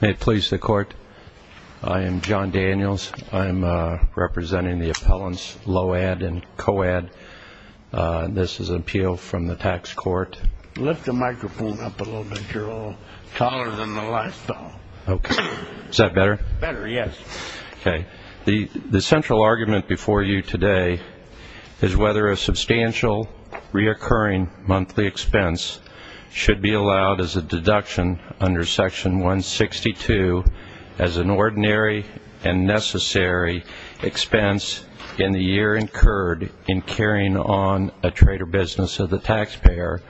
May it please the court. I am John Daniels. I'm representing the appellants Loadd and Coadd. This is an appeal from the tax court. Lift the microphone up a little bit. You're a little taller than the lifestyle. Okay. Is that better? Better, yes. Okay. The central argument before you today is whether a substantial reoccurring monthly expense should be allowed as a deduction under Section 162 as an ordinary and necessary expense in the year incurred in carrying on a trade or business of the taxpayer,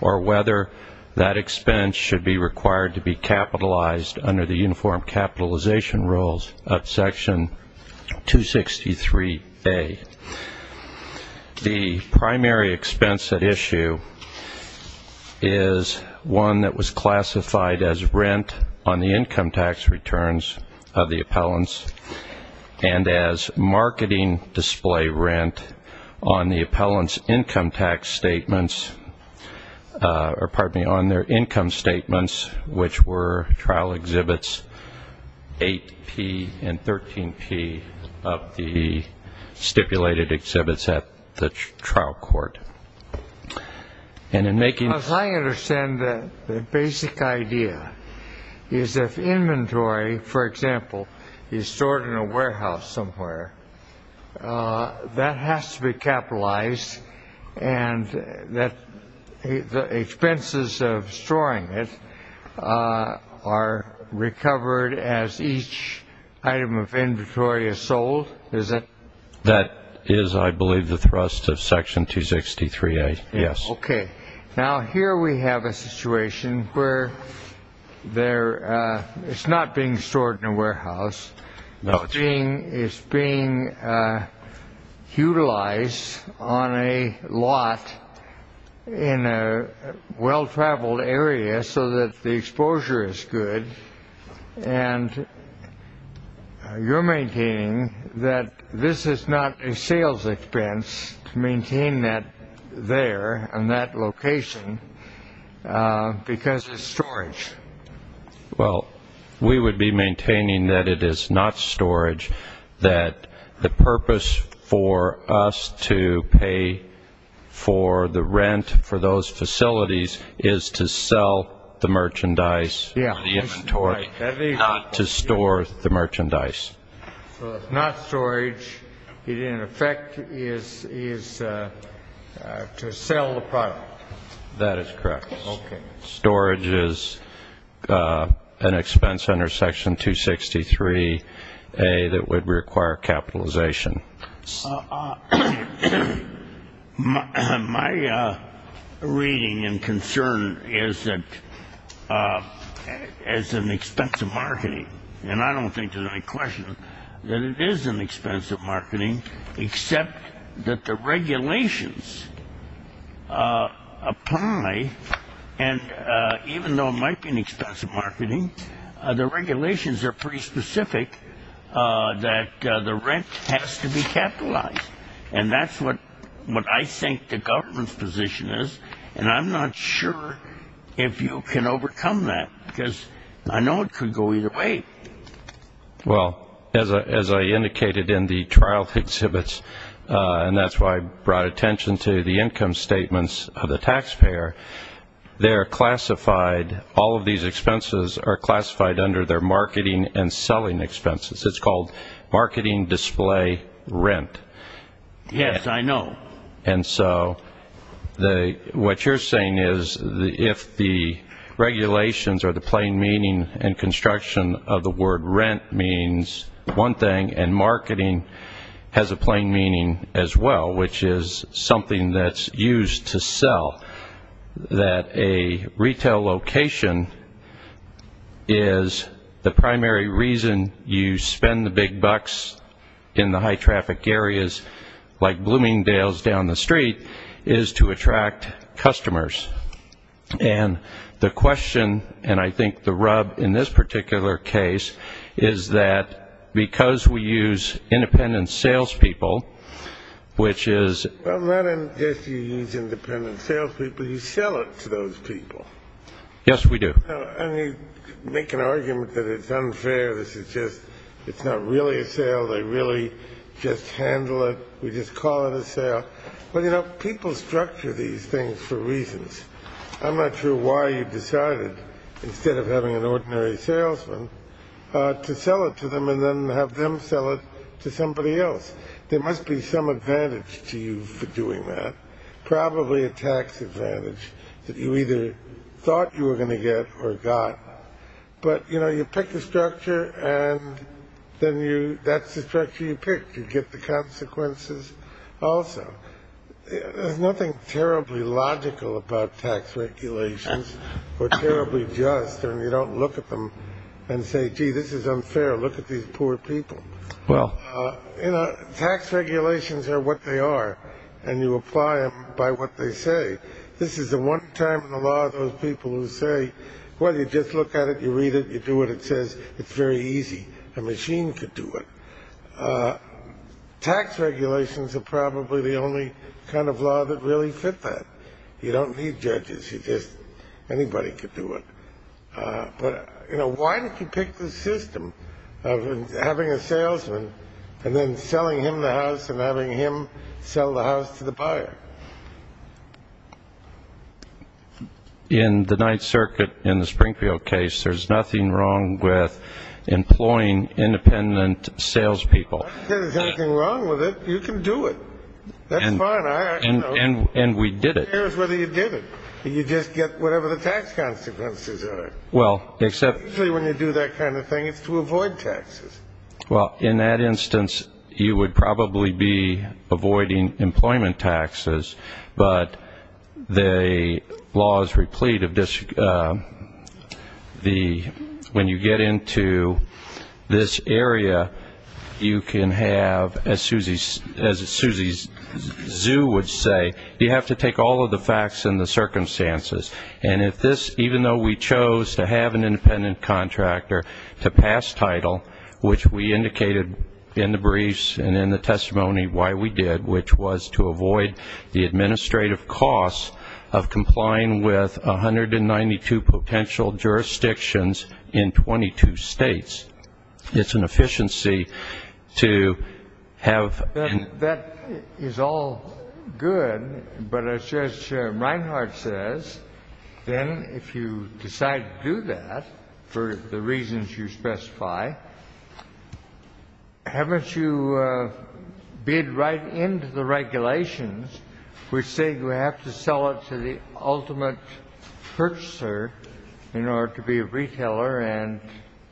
or whether that expense should be required to be capitalized under the uniform capitalization rules of Section 263A. The primary expense at issue is one that was classified as rent on the income tax returns of the appellants and as marketing display rent on the appellant's income tax statements, or pardon me, on their income statements, which were trial exhibits 8P and 13P of the stipulated exhibits at the trial court. As I understand it, the basic idea is if inventory, for example, is stored in a warehouse somewhere, that has to be capitalized and the expenses of storing it are recovered as each item of inventory is sold? That is, I believe, the thrust of Section 263A, yes. Okay. Now here we have a situation where it's not being stored in a warehouse. It's being utilized on a lot in a well-traveled area so that the exposure is good, and you're maintaining that this is not a sales expense to maintain that there in that location because it's storage. Well, we would be maintaining that it is not storage, that the purpose for us to pay for the rent for those facilities is to sell the merchandise or the inventory. Right. Not to store the merchandise. So it's not storage. It, in effect, is to sell the product. That is correct. Okay. Storage is an expense under Section 263A that would require capitalization. My reading and concern is that it's an expensive marketing, and I don't think there's any question that it is an expensive marketing except that the regulations apply, and even though it might be an expensive marketing, the regulations are pretty specific that the rent has to be capitalized, and that's what I think the government's position is, and I'm not sure if you can overcome that because I know it could go either way. Well, as I indicated in the trial exhibits, and that's why I brought attention to the income statements of the taxpayer, they're classified, all of these expenses are classified under their marketing and selling expenses. It's called marketing display rent. Yes, I know. And so what you're saying is if the regulations or the plain meaning and construction of the word rent means one thing, and marketing has a plain meaning as well, which is something that's used to sell, that a retail location is the primary reason you spend the big bucks in the high traffic areas, like Bloomingdale's down the street, is to attract customers. And the question, and I think the rub in this particular case, is that because we use independent salespeople, which is – Well, not unless you use independent salespeople. You sell it to those people. Yes, we do. And you make an argument that it's unfair. This is just – it's not really a sale. They really just handle it. We just call it a sale. Well, you know, people structure these things for reasons. I'm not sure why you decided, instead of having an ordinary salesman, to sell it to them and then have them sell it to somebody else. There must be some advantage to you for doing that, probably a tax advantage that you either thought you were going to get or got. But, you know, you pick the structure, and then that's the structure you pick. You get the consequences also. There's nothing terribly logical about tax regulations or terribly just, and you don't look at them and say, gee, this is unfair. Look at these poor people. Well. You know, tax regulations are what they are, and you apply them by what they say. This is the one time in the law of those people who say, well, you just look at it, you read it, you do what it says. It's very easy. A machine could do it. Tax regulations are probably the only kind of law that really fit that. You don't need judges. You just, anybody could do it. But, you know, why did you pick the system of having a salesman and then selling him the house and having him sell the house to the buyer? In the Ninth Circuit, in the Springfield case, there's nothing wrong with employing independent salespeople. If there's anything wrong with it, you can do it. That's fine. And we did it. Who cares whether you did it? You just get whatever the tax consequences are. Usually when you do that kind of thing, it's to avoid taxes. Well, in that instance, you would probably be avoiding employment taxes, but the law is replete of this. When you get into this area, you can have, as Susie's zoo would say, you have to take all of the facts and the circumstances. And if this, even though we chose to have an independent contractor to pass title, which we indicated in the briefs and in the testimony why we did, which was to avoid the administrative costs of complying with 192 potential jurisdictions in 22 states. It's an efficiency to have. That is all good, but as Judge Reinhart says, then if you decide to do that for the reasons you specify, haven't you bid right into the regulations, which say you have to sell it to the ultimate purchaser in order to be a retailer and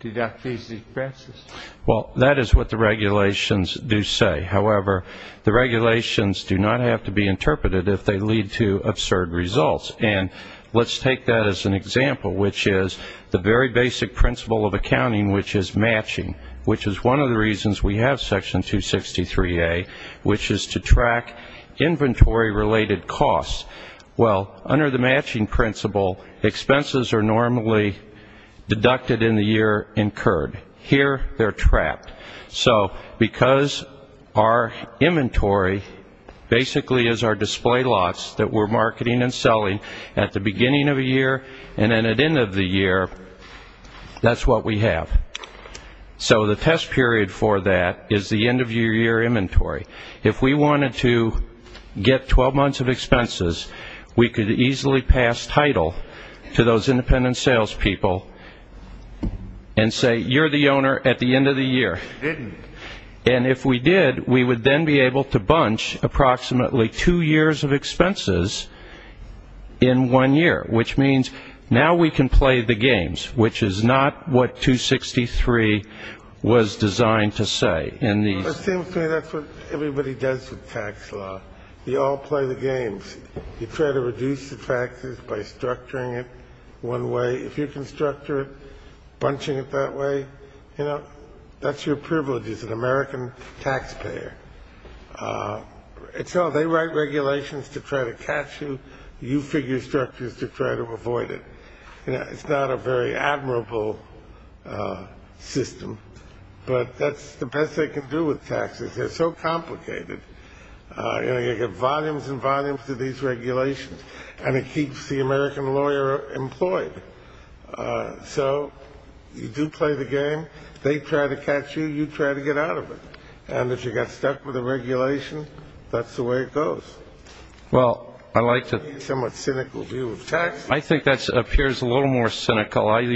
deduct these expenses? Well, that is what the regulations do say. However, the regulations do not have to be interpreted if they lead to absurd results. And let's take that as an example, which is the very basic principle of accounting, which is matching, which is one of the reasons we have Section 263A, which is to track inventory-related costs. Well, under the matching principle, expenses are normally deducted in the year incurred. Here they're trapped. So because our inventory basically is our display lots that we're marketing and selling at the beginning of the year and then at the end of the year, that's what we have. So the test period for that is the end-of-year inventory. If we wanted to get 12 months of expenses, we could easily pass title to those independent salespeople and say you're the owner at the end of the year. And if we did, we would then be able to bunch approximately two years of expenses in one year, which means now we can play the games, which is not what 263 was designed to say. It seems to me that's what everybody does with tax law. We all play the games. You try to reduce the taxes by structuring it one way. If you can structure it, bunching it that way, that's your privilege as an American taxpayer. They write regulations to try to catch you. You figure structures to try to avoid it. It's not a very admirable system, but that's the best they can do with taxes. They're so complicated. You get volumes and volumes of these regulations, and it keeps the American lawyer employed. So you do play the game. They try to catch you. You try to get out of it. And if you get stuck with the regulation, that's the way it goes. Well, I like to be somewhat cynical view of taxes. I think that appears a little more cynical. I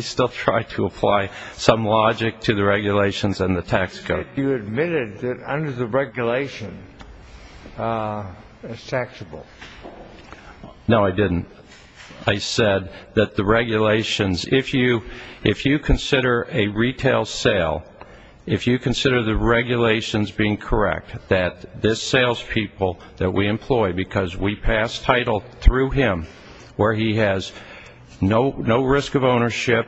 still try to apply some logic to the regulations and the tax code. You admitted that under the regulation, it's taxable. No, I didn't. I said that the regulations, if you consider a retail sale, if you consider the regulations being correct, that this salespeople that we employ because we pass title through him, where he has no risk of ownership,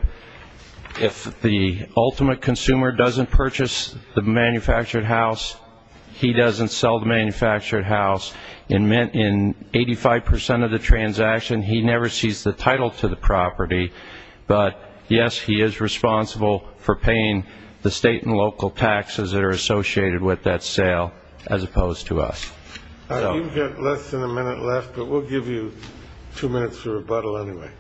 if the ultimate consumer doesn't purchase the manufactured house, he doesn't sell the manufactured house, in 85 percent of the transaction, he never sees the title to the property. But, yes, he is responsible for paying the state and local taxes that are associated with that sale as opposed to us. You've got less than a minute left, but we'll give you two minutes for rebuttal anyway.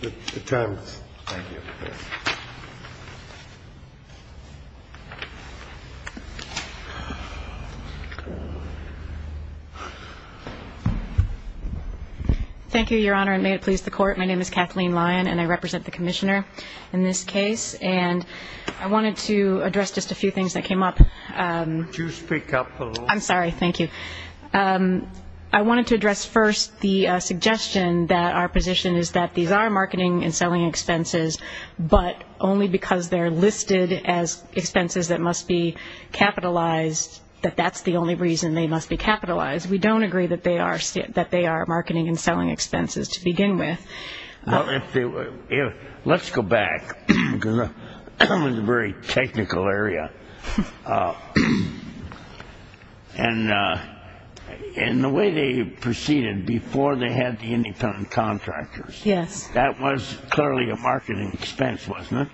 The time is up. Thank you, Your Honor, and may it please the Court. My name is Kathleen Lyon, and I represent the Commissioner in this case. And I wanted to address just a few things that came up. Would you speak up a little? I'm sorry. Thank you. I wanted to address first the suggestion that our position is that these are marketing and selling expenses, but only because they're listed as expenses that must be capitalized, that that's the only reason they must be capitalized. We don't agree that they are marketing and selling expenses to begin with. Well, let's go back, because that was a very technical area. And the way they proceeded before they had the independent contractors, that was clearly a marketing expense, wasn't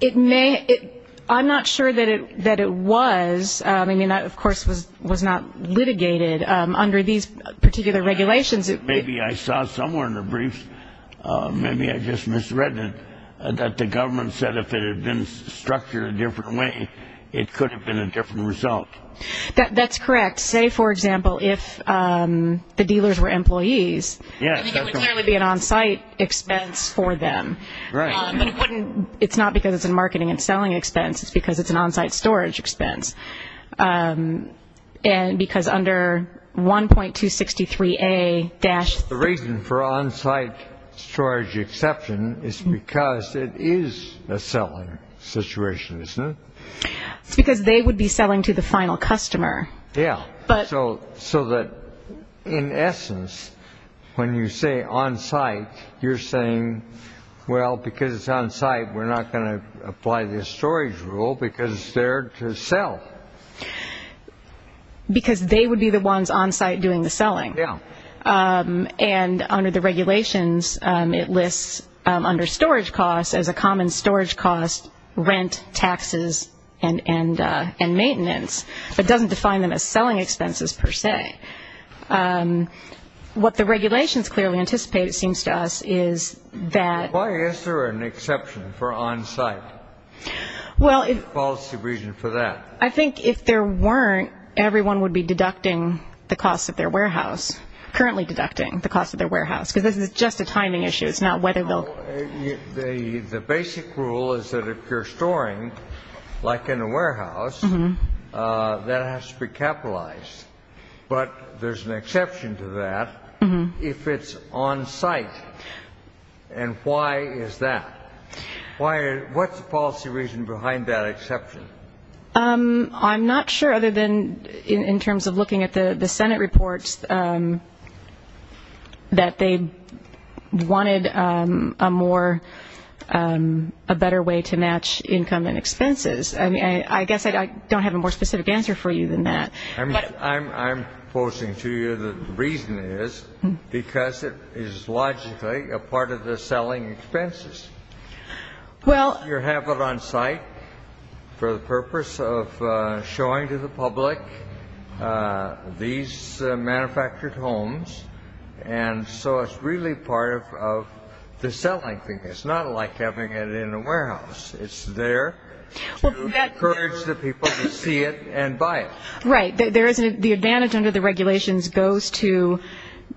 it? I'm not sure that it was. I mean, that, of course, was not litigated. Under these particular regulations it would be. Maybe I saw somewhere in the briefs, maybe I just misread it, that the government said if it had been structured a different way, it could have been a different result. That's correct. Say, for example, if the dealers were employees, it would clearly be an on-site expense for them. Right. But it's not because it's a marketing and selling expense. It's because it's an on-site storage expense. And because under 1.263A- The reason for on-site storage exception is because it is a selling situation, isn't it? It's because they would be selling to the final customer. Yeah. So that, in essence, when you say on-site, you're saying, well, because it's on-site, we're not going to apply this storage rule because it's there to sell. Because they would be the ones on-site doing the selling. Yeah. And under the regulations, it lists under storage costs as a common storage cost, rent, taxes, and maintenance. It doesn't define them as selling expenses per se. What the regulations clearly anticipate, it seems to us, is that- Why is there an exception for on-site? What's the reason for that? I think if there weren't, everyone would be deducting the cost of their warehouse, currently deducting the cost of their warehouse, because this is just a timing issue. It's not whether they'll- The basic rule is that if you're storing, like in a warehouse, that has to be capitalized. But there's an exception to that if it's on-site. And why is that? What's the policy reason behind that exception? I'm not sure, other than in terms of looking at the Senate reports, that they wanted a better way to match income and expenses. I guess I don't have a more specific answer for you than that. I'm posing to you the reason is because it is logically a part of the selling expenses. Well- You have it on-site for the purpose of showing to the public these manufactured homes, and so it's really part of the selling thing. It's not like having it in a warehouse. It's there to encourage the people to see it and buy it. Right. The advantage under the regulations goes to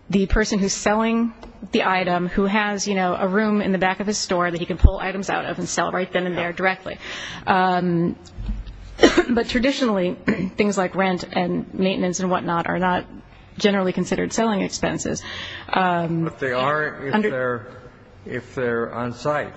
the person who's selling the item who has a room in the back of his store that he can pull items out of and sell right then and there directly. But traditionally, things like rent and maintenance and whatnot are not generally considered selling expenses. But they are if they're on-site.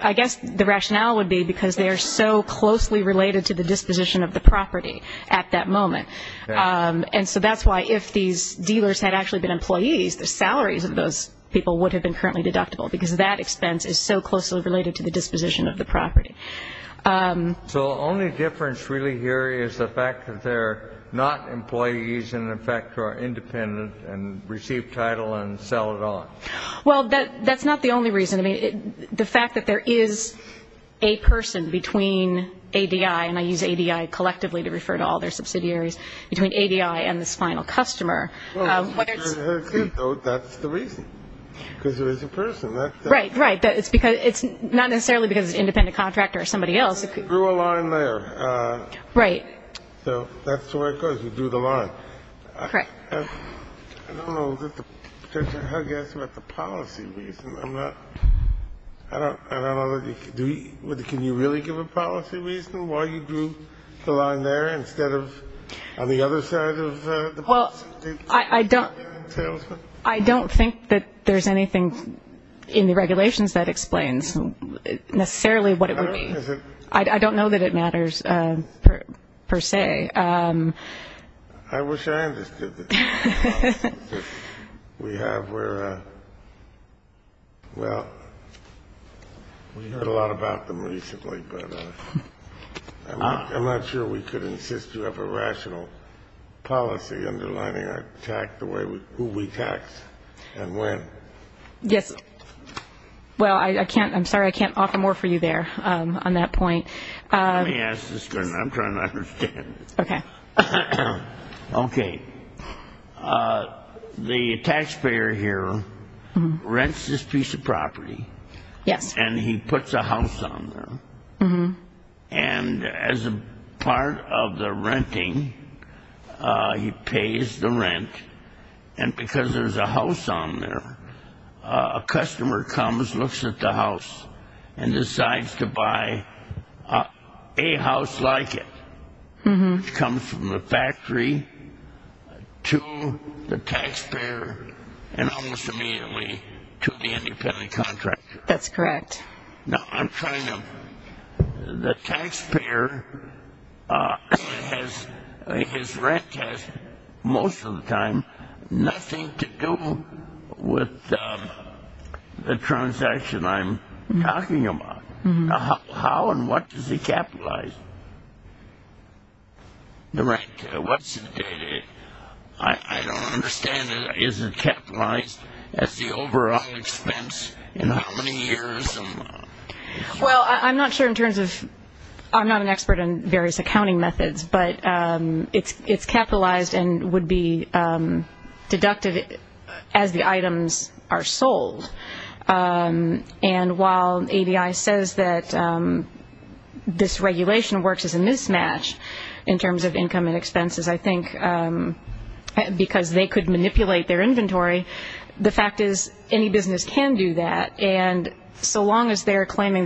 I guess the rationale would be because they are so closely related to the disposition of the property at that moment. And so that's why if these dealers had actually been employees, the salaries of those people would have been currently deductible because that expense is so closely related to the disposition of the property. So the only difference really here is the fact that they're not employees and, in fact, are independent and receive title and sell it on. Well, that's not the only reason. I mean, the fact that there is a person between ADI, and I use ADI collectively to refer to all their subsidiaries, between ADI and this final customer. That's the reason, because there is a person. Right, right. It's not necessarily because it's an independent contractor or somebody else. We drew a line there. Right. So that's where it goes. We drew the line. Correct. I don't know. I guess about the policy reason. I don't know. Can you really give a policy reason why you drew the line there instead of on the other side of the policy? Well, I don't think that there's anything in the regulations that explains necessarily what it would be. I don't know that it matters per se. Okay. I wish I understood the policy. We have where, well, we heard a lot about them recently, but I'm not sure we could insist you have a rational policy underlining who we tax and when. Yes. Well, I'm sorry I can't offer more for you there on that point. Let me ask this question. I'm trying to understand it. Okay. Okay. The taxpayer here rents this piece of property. Yes. And he puts a house on there. And as a part of the renting, he pays the rent, and because there's a house on there, a customer comes, looks at the house, and decides to buy a house like it, which comes from the factory to the taxpayer and almost immediately to the independent contractor. That's correct. Now, I'm trying to – the taxpayer, his rent has most of the time nothing to do with the transaction I'm talking about. How and what does he capitalize the rent? I don't understand. Is it capitalized as the overall expense in how many years? Well, I'm not sure in terms of – I'm not an expert in various accounting methods, but it's capitalized and would be deducted as the items are sold. And while ABI says that this regulation works as a mismatch in terms of income and expenses, I think because they could manipulate their inventory, the fact is any business can do that, and so long as they're claiming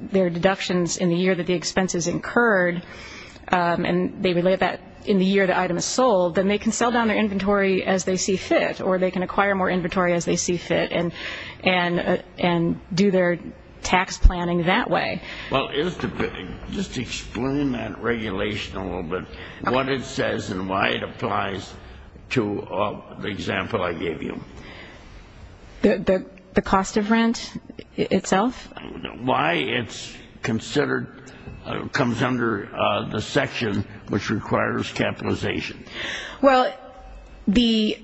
their deductions in the year that the expense is incurred and they relate that in the year the item is sold, then they can sell down their inventory as they see fit or they can acquire more inventory as they see fit and do their tax planning that way. Well, just explain that regulation a little bit, what it says and why it applies to the example I gave you. The cost of rent itself? Why it's considered – comes under the section which requires capitalization. Well, the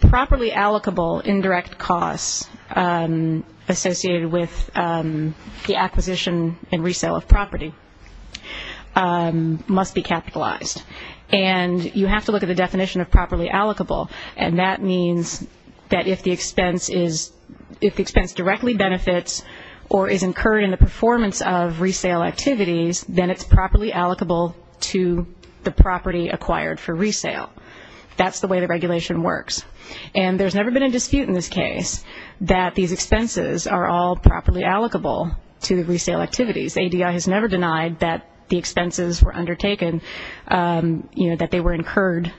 properly allocable indirect costs associated with the acquisition and resale of property must be capitalized, and you have to look at the definition of properly allocable, and that means that if the expense directly benefits or is incurred in the performance of resale activities, then it's properly allocable to the property acquired for resale. That's the way the regulation works, and there's never been a dispute in this case that these expenses are all properly allocable to resale activities. ADI has never denied that the expenses were undertaken, that they were incurred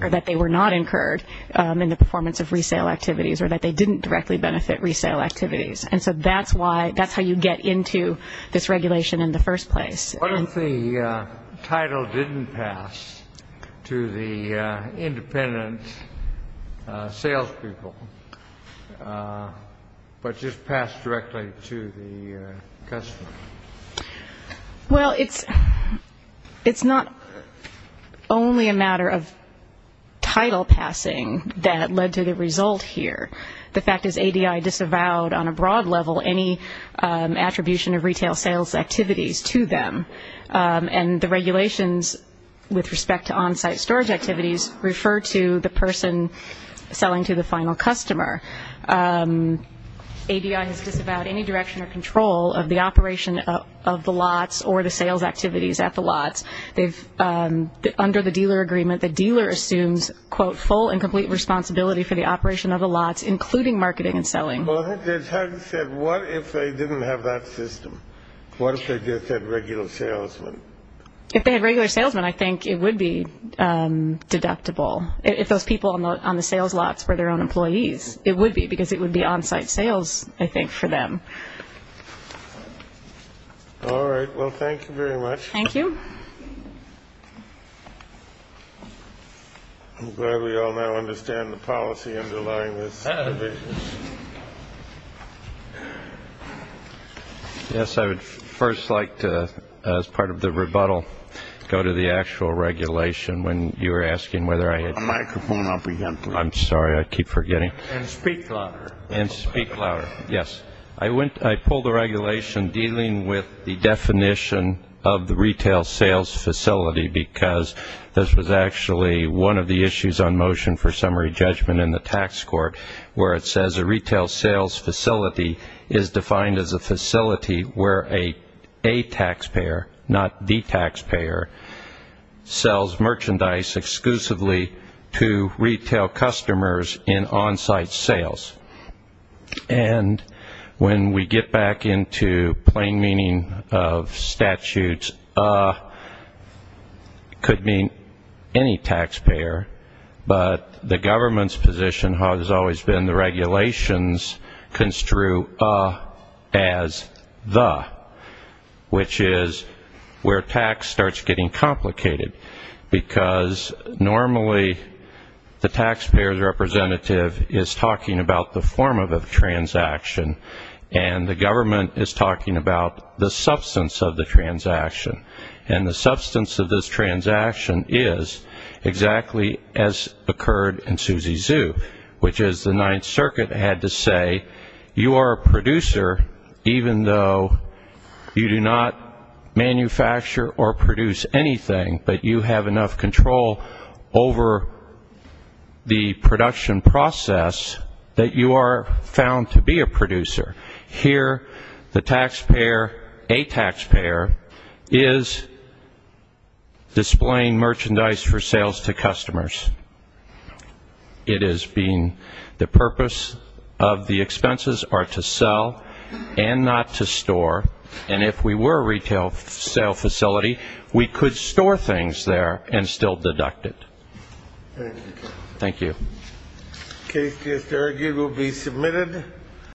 or that they were not incurred in the performance of resale activities or that they didn't directly benefit resale activities, and so that's how you get into this regulation in the first place. What if the title didn't pass to the independent salespeople but just passed directly to the customer? Well, it's not only a matter of title passing that led to the result here. The fact is ADI disavowed on a broad level any attribution of retail sales activities to them, and the regulations with respect to on-site storage activities refer to the person selling to the final customer. ADI has disavowed any direction or control of the operation of the lots or the sales activities at the lots. Under the dealer agreement, the dealer assumes, quote, Well, I think it's hard to say. What if they didn't have that system? What if they just had regular salesmen? If they had regular salesmen, I think it would be deductible. If those people on the sales lots were their own employees, it would be because it would be on-site sales, I think, for them. All right. Well, thank you very much. Thank you. I'm glad we all now understand the policy underlying this. Yes, I would first like to, as part of the rebuttal, go to the actual regulation when you were asking whether I had a microphone up again. I'm sorry. I keep forgetting. And speak louder. And speak louder. Yes. I pulled the regulation dealing with the definition of the retail sales facility because this was actually one of the issues on motion for summary judgment in the tax court where it says a retail sales facility is defined as a facility where a taxpayer, not the taxpayer, sells merchandise exclusively to retail customers in on-site sales. And when we get back into plain meaning of statutes, a could mean any taxpayer, but the government's position has always been the regulations construe a as the, which is where tax starts getting complicated because normally the taxpayer's representative is talking about the form of a transaction and the government is talking about the substance of the transaction. And the substance of this transaction is exactly as occurred in Suzy's Zoo, which is the Ninth Circuit had to say you are a producer even though you do not manufacture or produce anything but you have enough control over the production process that you are found to be a producer. Here the taxpayer, a taxpayer, is displaying merchandise for sales to customers. It is being the purpose of the expenses are to sell and not to store. And if we were a retail sale facility, we could store things there and still deduct it. Thank you. Thank you.